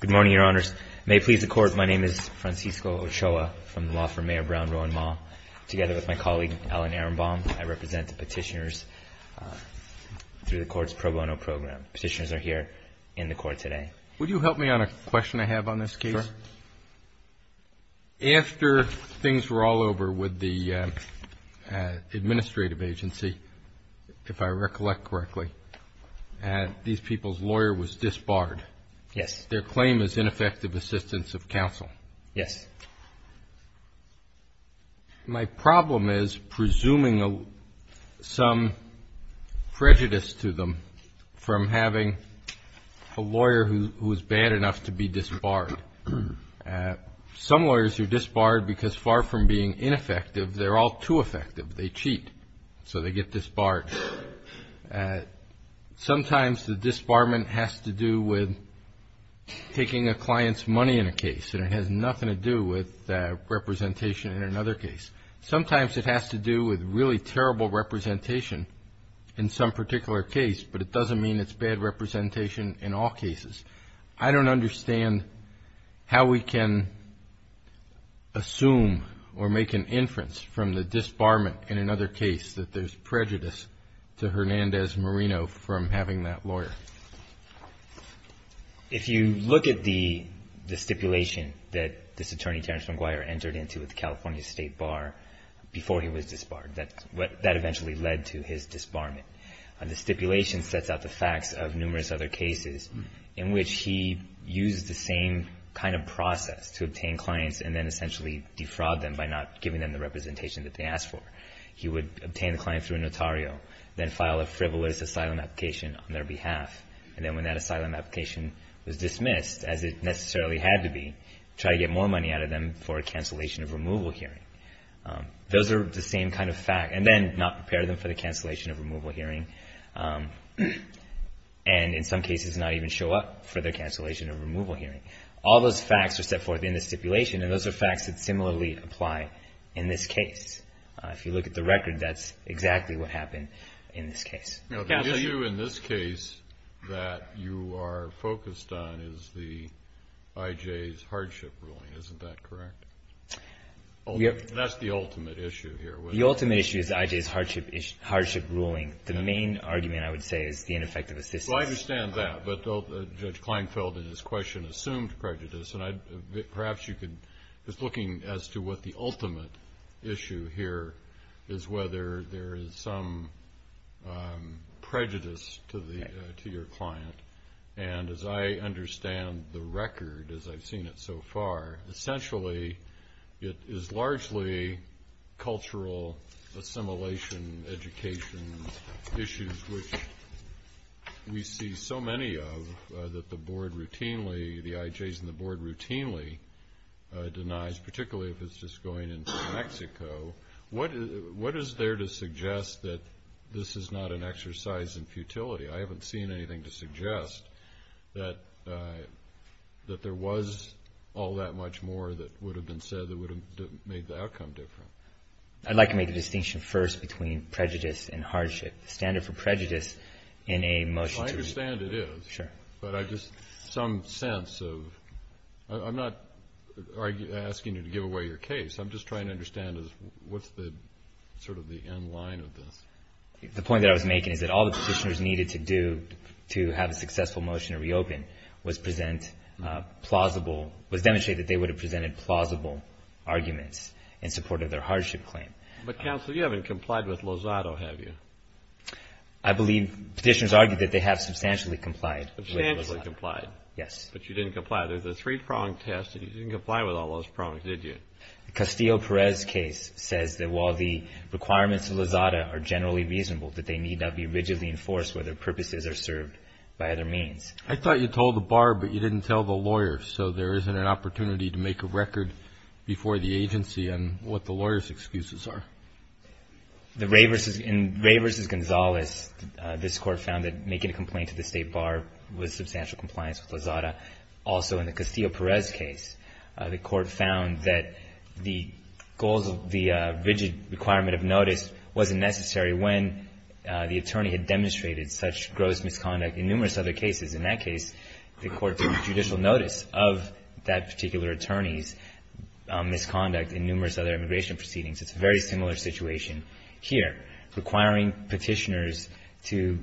Good morning, Your Honors. May it please the Court, my name is Francisco Ochoa from the law firm Mayor Brown, Rowan Mall. Together with my colleague, Alan Ehrenbaum, I represent the petitioners through the Court's pro bono program. Petitioners are here in the Court today. Would you help me on a question I have on this case? Sure. After things were all over with the administrative agency, if I recollect correctly, these people's lawyer was disbarred. Yes. Their claim is ineffective assistance of counsel. Yes. My problem is presuming some prejudice to them from having a lawyer who is bad enough to be disbarred. Some lawyers are disbarred because far from being ineffective, they're all too effective. They cheat, so they get disbarred. Sometimes the disbarment has to do with taking a client's money in a case, and it has nothing to do with representation in another case. Sometimes it has to do with really terrible representation in some particular case, but it doesn't mean it's bad representation in all cases. I don't understand how we can assume or make an inference from the disbarment in another case that there's prejudice to Hernandez-Marino from having that lawyer. If you look at the stipulation that this attorney, Terrence McGuire, entered into at the California State Bar before he was disbarred, that eventually led to his disbarment. The stipulation sets out the facts of numerous other cases in which he used the same kind of process to obtain clients and then essentially defraud them by not giving them the representation that they asked for. He would obtain the client through a notario, then file a frivolous asylum application on their behalf, and then when that asylum application was dismissed, as it necessarily had to be, try to get more money out of them for a cancellation of removal hearing. Those are the same kind of facts, and then not prepare them for the cancellation of removal hearing, and in some cases not even show up for the cancellation of removal hearing. All those facts are set forth in the stipulation, and those are facts that similarly apply in this case. If you look at the record, that's exactly what happened in this case. The issue in this case that you are focused on is the I.J.'s hardship ruling. Isn't that correct? That's the ultimate issue here. The ultimate issue is I.J.'s hardship ruling. The main argument, I would say, is the ineffective assistance. I understand that, but Judge Kleinfeld in his question assumed prejudice, and perhaps you could, just looking as to what the ultimate issue here is, whether there is some prejudice to your client, and as I understand the record as I've seen it so far, essentially it is largely cultural assimilation, education issues, which we see so many of that the board routinely, the I.J.'s and the board routinely denies, particularly if it's just going into Mexico. What is there to suggest that this is not an exercise in futility? I haven't seen anything to suggest that there was all that much more that would have been said that would have made the outcome different. I'd like to make a distinction first between prejudice and hardship. The standard for prejudice in a motion to reopen. I understand it is. Sure. But I just, some sense of, I'm not asking you to give away your case. I'm just trying to understand what's sort of the end line of this. The point that I was making is that all the petitioners needed to do to have a successful motion to reopen was demonstrate that they would have presented plausible arguments in support of their hardship claim. But, counsel, you haven't complied with Lozada, have you? I believe petitioners argued that they have substantially complied. Substantially complied. Yes. But you didn't comply. There's a three-prong test, and you didn't comply with all those prongs, did you? The Castillo-Perez case says that while the requirements of Lozada are generally reasonable, that they need not be rigidly enforced where their purposes are served by other means. I thought you told the bar, but you didn't tell the lawyers, so there isn't an opportunity to make a record before the agency on what the lawyers' excuses are. In Ray v. Gonzalez, this Court found that making a complaint to the State Bar was substantial compliance with Lozada. Also, in the Castillo-Perez case, the Court found that the goals of the rigid requirement of notice wasn't necessary when the attorney had demonstrated such gross misconduct in numerous other cases. In that case, the Court took judicial notice of that particular attorney's misconduct in numerous other immigration proceedings. It's a very similar situation here. Requiring petitioners to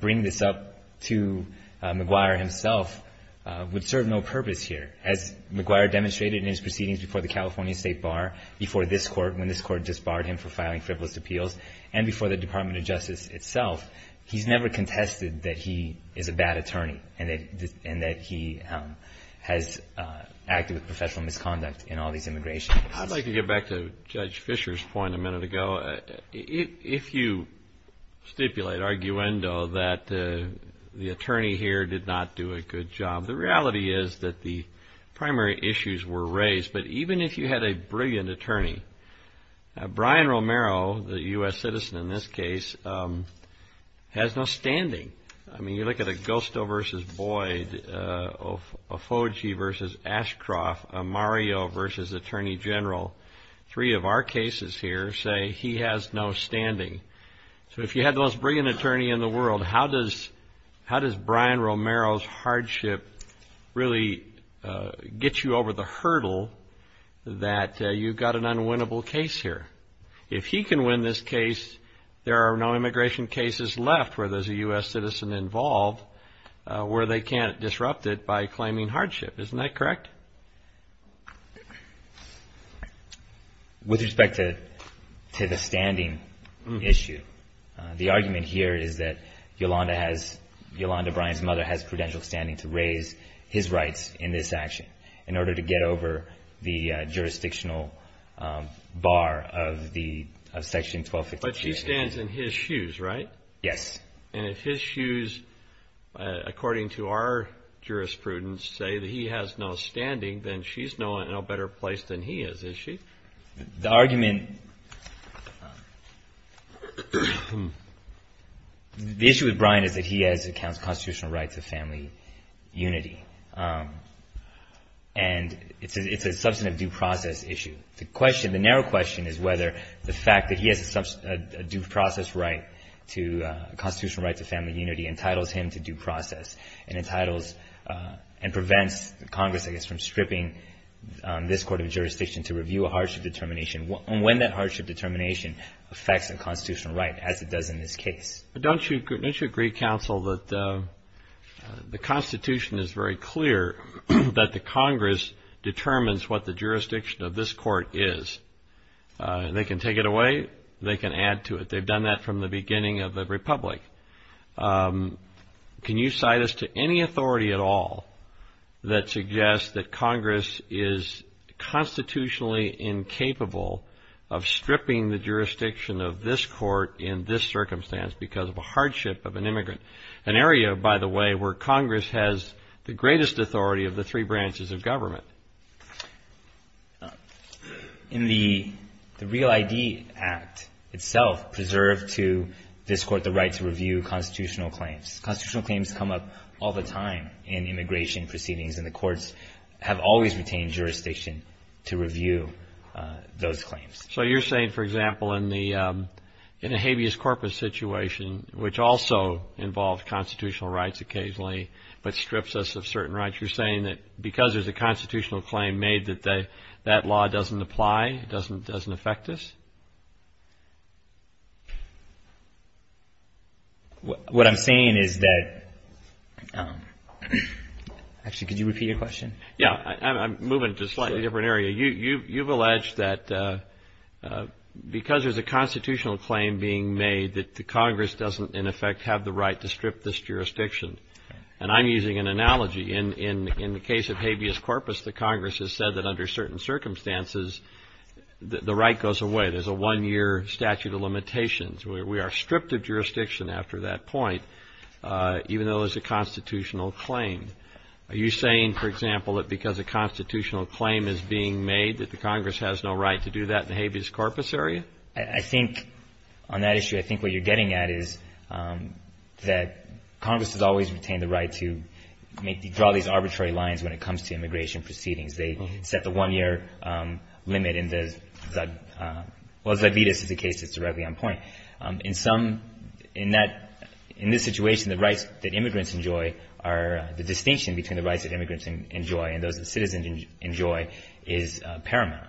bring this up to McGuire himself would serve no purpose here. As McGuire demonstrated in his proceedings before the California State Bar, before this Court when this Court disbarred him for filing frivolous appeals, and before the Department of Justice itself, he's never contested that he is a bad attorney and that he has acted with professional misconduct in all these immigration cases. I'd like to get back to Judge Fischer's point a minute ago. If you stipulate, arguendo, that the attorney here did not do a good job, the reality is that the primary issues were raised. But even if you had a brilliant attorney, Brian Romero, the U.S. citizen in this case, has no standing. I mean, you look at Agosto v. Boyd, Ofoge v. Ashcroft, Mario v. Attorney General, three of our cases here say he has no standing. So if you had the most brilliant attorney in the world, how does Brian Romero's hardship really get you over the hurdle that you've got an unwinnable case here? If he can win this case, there are no immigration cases left where there's a U.S. citizen involved where they can't disrupt it by claiming hardship. Isn't that correct? With respect to the standing issue, the argument here is that Yolanda has, Yolanda, Brian's mother, has prudential standing to raise his rights in this action in order to get over the jurisdictional bar of Section 1253. But she stands in his shoes, right? Yes. And if his shoes, according to our jurisprudence, say that he has no standing, then she's no better placed than he is, is she? The argument, the issue with Brian is that he has constitutional rights of family unity. And it's a substantive due process issue. The question, the narrow question is whether the fact that he has a due process right to, a constitutional right to family unity entitles him to due process and entitles and prevents Congress, I guess, from stripping this court of jurisdiction to review a hardship determination. And when that hardship determination affects a constitutional right as it does in this case. Don't you agree, counsel, that the Constitution is very clear that the Congress determines what the jurisdiction of this court is. They can take it away. They can add to it. They've done that from the beginning of the Republic. Can you cite us to any authority at all that suggests that Congress is constitutionally incapable of stripping the jurisdiction of this court in this circumstance because of a hardship of an immigrant? An area, by the way, where Congress has the greatest authority of the three branches of government. In the Real ID Act itself preserved to this court the right to review constitutional claims. Constitutional claims come up all the time in immigration proceedings and the courts have always retained jurisdiction to review those claims. So you're saying, for example, in the habeas corpus situation, which also involves constitutional rights occasionally but strips us of certain rights, you're saying that because there's a constitutional claim made that that law doesn't apply, doesn't affect us? What I'm saying is that – actually, could you repeat your question? Yeah. I'm moving to a slightly different area. You've alleged that because there's a constitutional claim being made that Congress doesn't, in effect, have the right to strip this jurisdiction. And I'm using an analogy. In the case of habeas corpus, the Congress has said that under certain circumstances the right goes away. There's a one-year statute of limitations where we are stripped of jurisdiction after that point, even though there's a constitutional claim. Are you saying, for example, that because a constitutional claim is being made that the Congress has no right to do that in the habeas corpus area? I think on that issue, I think what you're getting at is that Congress has always retained the right to draw these arbitrary lines when it comes to immigration proceedings. They set the one-year limit in the – well, Zibidis is a case that's directly on point. In some – in that – in this situation, the rights that immigrants enjoy are – the distinction between the rights that immigrants enjoy and those that citizens enjoy is paramount.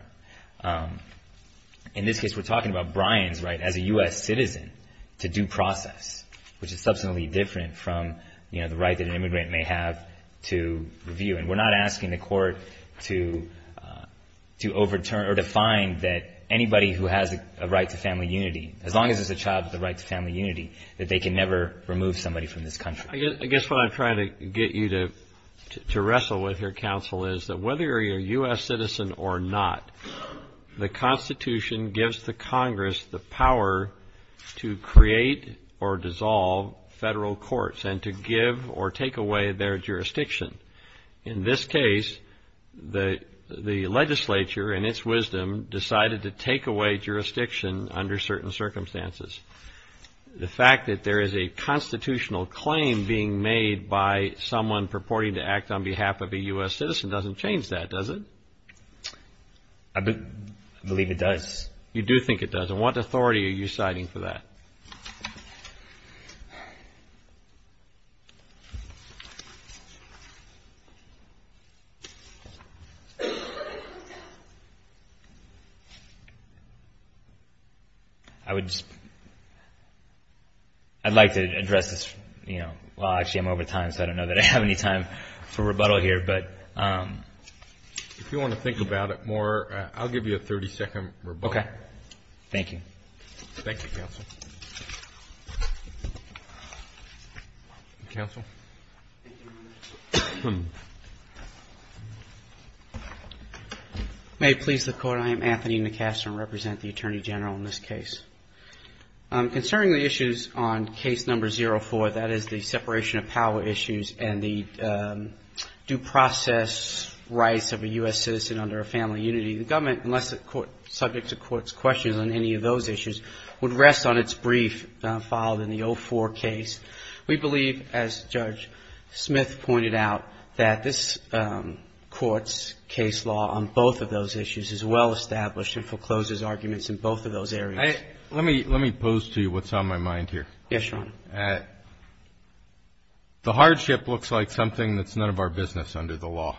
In this case, we're talking about Bryan's right as a U.S. citizen to due process, which is substantially different from, you know, the right that an immigrant may have to review. And we're not asking the court to overturn or to find that anybody who has a right to family unity, as long as it's a child with a right to family unity, that they can never remove somebody from this country. I guess what I'm trying to get you to wrestle with here, Counsel, is that whether you're a U.S. citizen or not, the Constitution gives the Congress the power to create or dissolve federal courts and to give or take away their jurisdiction. In this case, the legislature, in its wisdom, decided to take away jurisdiction under certain circumstances. The fact that there is a constitutional claim being made by someone purporting to act on behalf of a U.S. citizen doesn't change that, does it? I believe it does. You do think it does. And what authority are you citing for that? I would like to address this. Well, actually, I'm over time, so I don't know that I have any time for rebuttal here. But if you want to think about it more, I'll give you a 30-second rebuttal. Okay. Thank you. Thank you, Counsel. Counsel? May it please the Court, I am Anthony McCaster and represent the Attorney General in this case. Concerning the issues on case number 04, that is the separation of power issues and the due process rights of a U.S. citizen under a family unity, the government, unless it's subject to court's questions on any of those issues, would rest on its brief filed in the 04 case. We believe, as Judge Smith pointed out, that this Court's case law on both of those issues is well established and forecloses arguments in both of those areas. Let me pose to you what's on my mind here. Yes, Your Honor. The hardship looks like something that's none of our business under the law.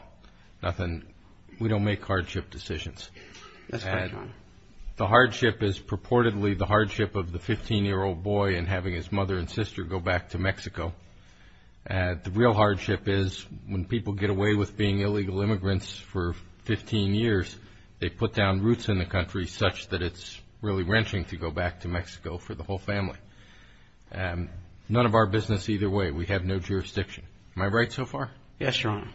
We don't make hardship decisions. That's right, Your Honor. The hardship is purportedly the hardship of the 15-year-old boy and having his mother and sister go back to Mexico. The real hardship is when people get away with being illegal immigrants for 15 years, they put down roots in the country such that it's really wrenching to go back to Mexico for the whole family. None of our business either way. We have no jurisdiction. Am I right so far? Yes, Your Honor.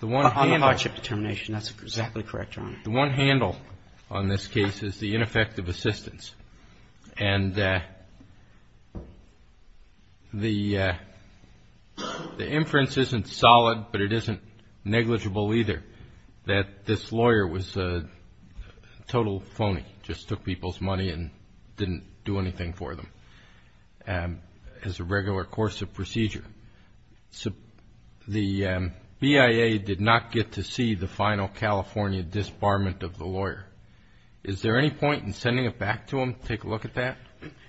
On the hardship determination, that's exactly correct, Your Honor. The one handle on this case is the ineffective assistance. And the inference isn't solid, but it isn't negligible either, that this lawyer was a total phony, just took people's money and didn't do anything for them as a regular course of procedure. The BIA did not get to see the final California disbarment of the lawyer. Is there any point in sending it back to them to take a look at that?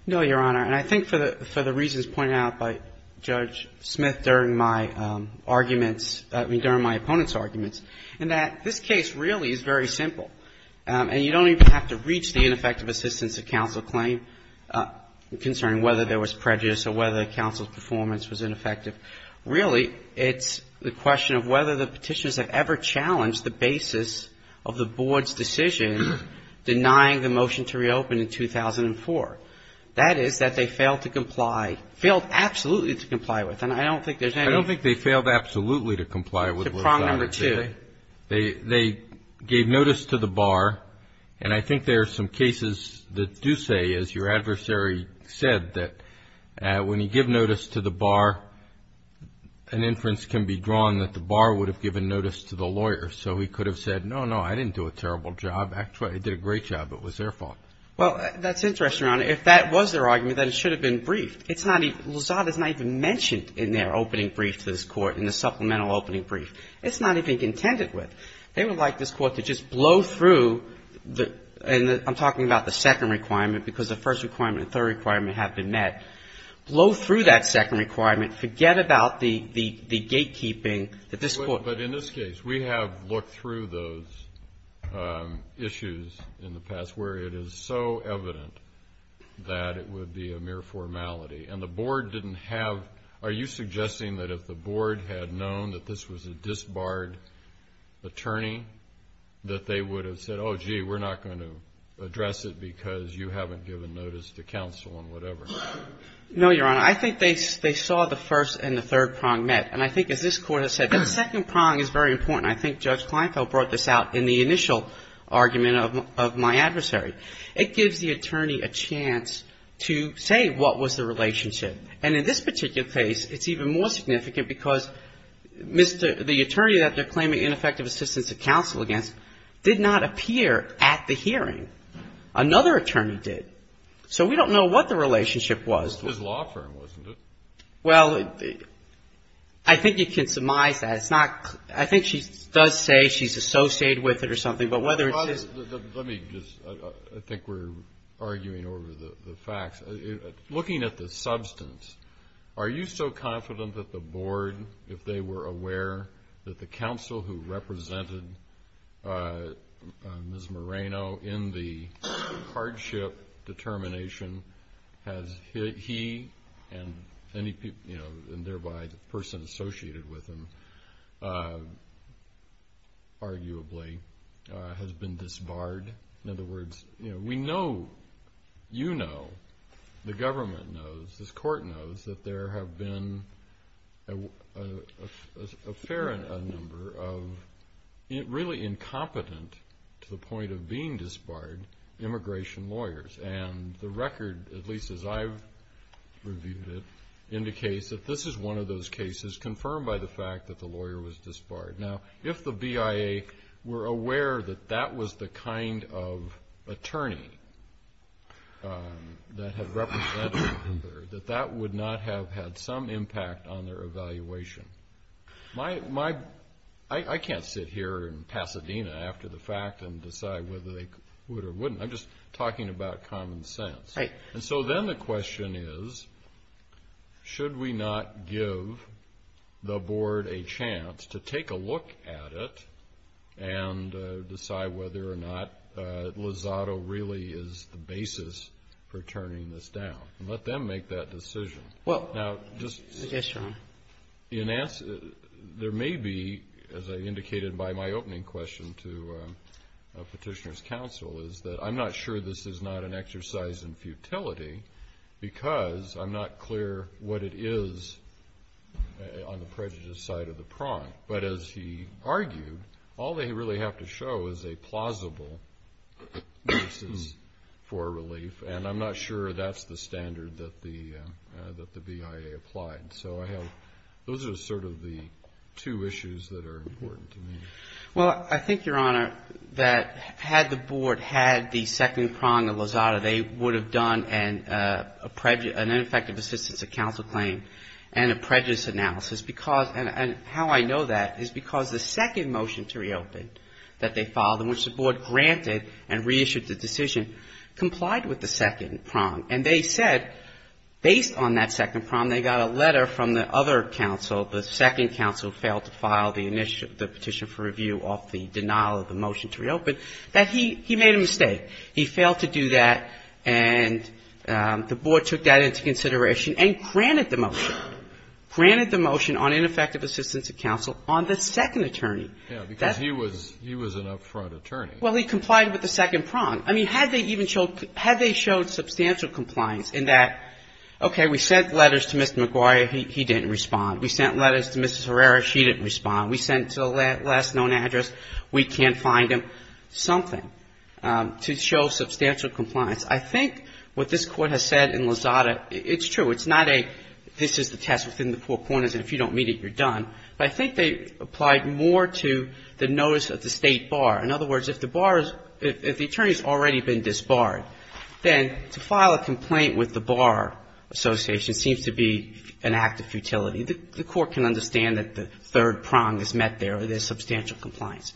No, Your Honor. And I think for the reasons pointed out by Judge Smith during my arguments, I mean, during my opponent's arguments, in that this case really is very simple. And you don't even have to reach the ineffective assistance of counsel claim concerning whether there was prejudice or whether counsel's performance was ineffective. Really, it's the question of whether the Petitioners have ever challenged the basis of the board's decision in denying the motion to reopen in 2004. That is, that they failed to comply, failed absolutely to comply with. And I don't think there's any ---- I don't think they failed absolutely to comply with. To prong number two. They gave notice to the bar. And I think there are some cases that do say, as your adversary said, that when you give notice to the bar, an inference can be drawn that the bar would have given notice to the lawyer. So he could have said, no, no, I didn't do a terrible job. Actually, I did a great job. It was their fault. Well, that's interesting, Your Honor. If that was their argument, then it should have been briefed. It's not even ---- Lazada's not even mentioned in their opening brief to this Court, in the supplemental opening brief. It's not even contended with. They would like this Court to just blow through the ---- and I'm talking about the second requirement because the first requirement and third requirement have been met. Blow through that second requirement. Forget about the gatekeeping that this Court ---- Well, but in this case, we have looked through those issues in the past, where it is so evident that it would be a mere formality. And the Board didn't have ---- Are you suggesting that if the Board had known that this was a disbarred attorney, that they would have said, oh, gee, we're not going to address it because you haven't given notice to counsel and whatever? No, Your Honor. I think they saw the first and the third prong met. And I think as this Court has said, that second prong is very important. I think Judge Kleinfeld brought this out in the initial argument of my adversary. It gives the attorney a chance to say what was the relationship. And in this particular case, it's even more significant because Mr. ---- the attorney that they're claiming ineffective assistance of counsel against did not appear at the hearing. Another attorney did. So we don't know what the relationship was. It was his law firm, wasn't it? Well, I think you can surmise that. It's not ---- I think she does say she's associated with it or something. But whether it's ---- Let me just ---- I think we're arguing over the facts. Looking at the substance, are you so confident that the Board, if they were aware that the counsel who represented Ms. Moreno in the hardship determination has he and thereby the person associated with him arguably has been disbarred? In other words, we know, you know, the government knows, this Court knows, that there have been a fair number of really incompetent to the point of being disbarred immigration lawyers. And the record, at least as I've reviewed it, indicates that this is one of those cases confirmed by the fact that the lawyer was disbarred. Now, if the BIA were aware that that was the kind of attorney that had represented her, that that would not have had some impact on their evaluation. My ---- I can't sit here in Pasadena after the fact and decide whether they would or wouldn't. I'm just talking about common sense. Right. And so then the question is, should we not give the Board a chance to take a look at it and decide whether or not Lozado really is the basis for turning this down? And let them make that decision. Well ---- Now, just ---- Yes, Your Honor. There may be, as I indicated by my opening question to Petitioner's Counsel, is that I'm not sure this is not an exercise in futility because I'm not clear what it is on the prejudiced side of the prong. But as he argued, all they really have to show is a plausible basis for relief, and I'm not sure that's the standard that the BIA applied. So I have ---- those are sort of the two issues that are important to me. Well, I think, Your Honor, that had the Board had the second prong of Lozado, they would have done an ineffective assistance of counsel claim and a prejudiced analysis because ---- and how I know that is because the second motion to reopen that they filed, in which the Board granted and reissued the decision, complied with the second prong. And they said, based on that second prong, they got a letter from the other counsel, the second counsel, failed to file the petition for review off the denial of the motion to reopen, that he made a mistake. He failed to do that, and the Board took that into consideration and granted the motion, granted the motion on ineffective assistance of counsel on the second attorney. Yes, because he was an up-front attorney. Well, he complied with the second prong. I mean, had they even showed ---- had they showed substantial compliance in that, okay, we sent letters to Mr. McGuire, he didn't respond. We sent letters to Mrs. Herrera, she didn't respond. We sent to a last known address, we can't find him, something to show substantial compliance. I think what this Court has said in Lozado, it's true, it's not a this is the test within the four corners and if you don't meet it, you're done. But I think they applied more to the notice of the State Bar. In other words, if the Bar is ---- if the attorney has already been disbarred, then to file a complaint with the Bar Association seems to be an act of futility. The Court can understand that the third prong is met there, there's substantial compliance.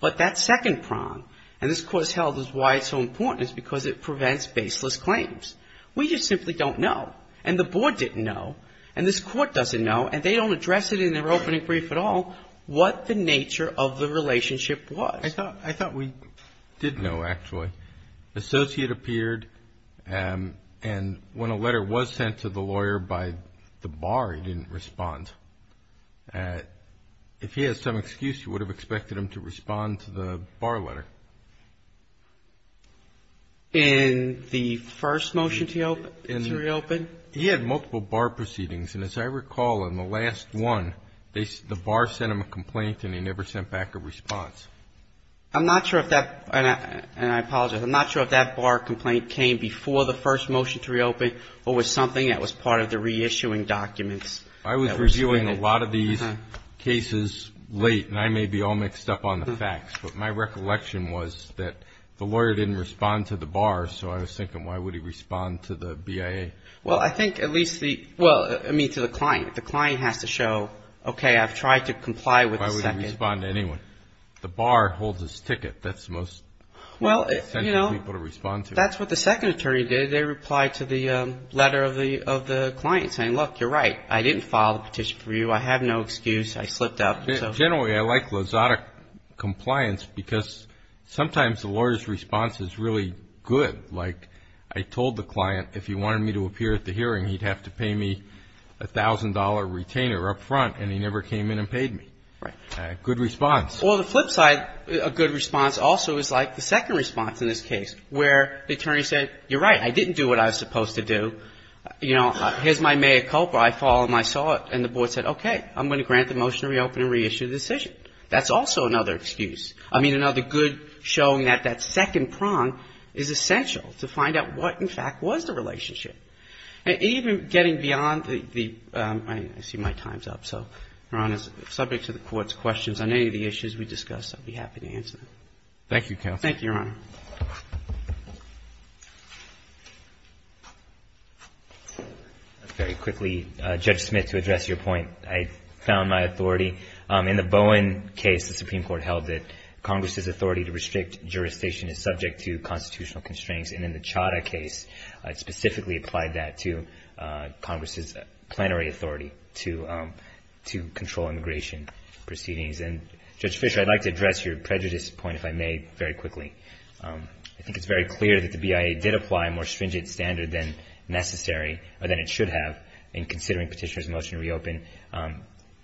But that second prong, and this Court's held is why it's so important, is because it prevents baseless claims. We just simply don't know, and the Board didn't know, and this Court doesn't know, and they don't address it in their opening brief at all, what the nature of the relationship was. I thought we did know, actually. Associate appeared, and when a letter was sent to the lawyer by the Bar, he didn't respond. If he had some excuse, you would have expected him to respond to the Bar letter. In the first motion to reopen? He had multiple Bar proceedings, and as I recall in the last one, the Bar sent him a complaint and he never sent back a response. I'm not sure if that, and I apologize, I'm not sure if that Bar complaint came before the first motion to reopen or was something that was part of the reissuing documents. I was reviewing a lot of these cases late, and I may be all mixed up on the facts, but my recollection was that the lawyer didn't respond to the Bar, so I was thinking why would he respond to the BIA? Well, I think at least the, well, I mean to the client. The client has to show, okay, I've tried to comply with the second. He didn't respond to anyone. The Bar holds his ticket. That's the most essential people to respond to. Well, you know, that's what the second attorney did. They replied to the letter of the client saying, look, you're right, I didn't file the petition for you. I have no excuse. I slipped up. Generally, I like Lozada compliance because sometimes the lawyer's response is really good. Like I told the client if he wanted me to appear at the hearing, he'd have to pay me $1,000 retainer up front, and he never came in and paid me. Right. Good response. Well, the flip side, a good response also is like the second response in this case where the attorney said, you're right, I didn't do what I was supposed to do. You know, here's my mea culpa. I followed my thought, and the Board said, okay, I'm going to grant the motion to reopen and reissue the decision. That's also another excuse. I mean, another good showing that that second prong is essential to find out what, in fact, was the relationship. And even getting beyond the ‑‑ I see my time's up, so, Your Honor, subject to the Court's questions on any of the issues we discussed, I'd be happy to answer them. Thank you, counsel. Thank you, Your Honor. Very quickly, Judge Smith, to address your point, I found my authority. In the Bowen case, the Supreme Court held that Congress's authority to restrict jurisdiction is subject to constitutional and applied that to Congress's plenary authority to control immigration proceedings. And, Judge Fischer, I'd like to address your prejudice point, if I may, very quickly. I think it's very clear that the BIA did apply a more stringent standard than necessary, or than it should have, in considering Petitioner's motion to reopen.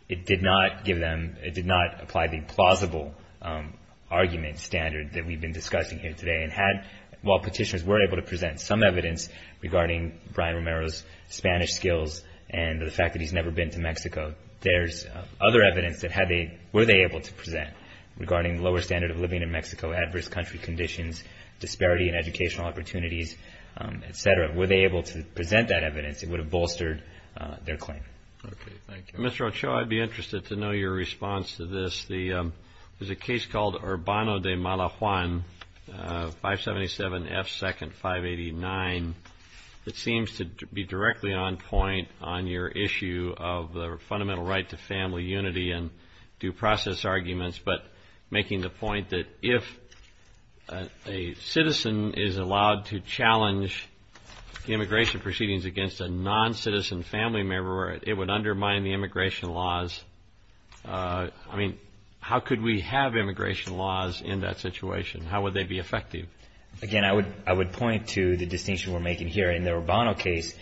It did not give them ‑‑ it did not apply the plausible argument standard that we've been discussing here today and had, while Petitioner's were able to present some evidence regarding Brian Romero's Spanish skills and the fact that he's never been to Mexico. There's other evidence that were they able to present regarding the lower standard of living in Mexico, adverse country conditions, disparity in educational opportunities, et cetera. Were they able to present that evidence, it would have bolstered their claim. Okay, thank you. Mr. Ochoa, I'd be interested to know your response to this. There's a case called Urbano de Malajuan, 577F2nd589. It seems to be directly on point on your issue of the fundamental right to family unity and due process arguments, but making the point that if a citizen is allowed to challenge immigration proceedings against a noncitizen family member, it would undermine the immigration laws. I mean, how could we have immigration laws in that situation? How would they be effective? Again, I would point to the distinction we're making here. In the Urbano case,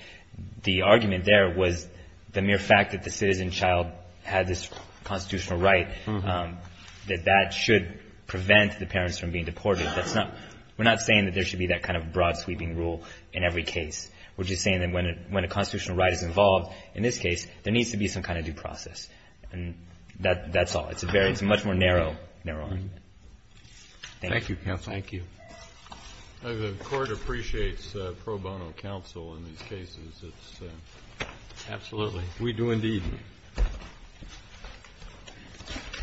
the argument there was the mere fact that the citizen child had this constitutional right, that that should prevent the parents from being deported. We're not saying that there should be that kind of broad sweeping rule in every case. We're just saying that when a constitutional right is involved in this case, there needs to be some kind of due process. And that's all. It's a much more narrow argument. Thank you. Thank you, Counsel. The Court appreciates pro bono counsel in these cases. Absolutely. We do indeed.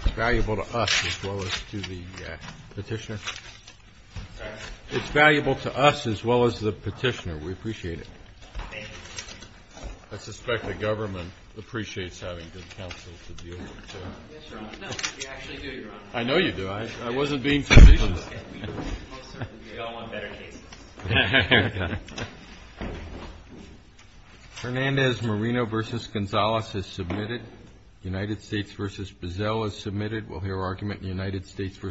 It's valuable to us as well as to the Petitioner. It's valuable to us as well as to the Petitioner. We appreciate it. Thank you. I suspect the government appreciates having good counsel to deal with, too. Yes, Your Honor. No, we actually do, Your Honor. I know you do. I wasn't being facetious. We all want better cases. Hernandez-Marino v. Gonzales is submitted. United States v. Bazell is submitted. We'll hear argument in United States v. Solt.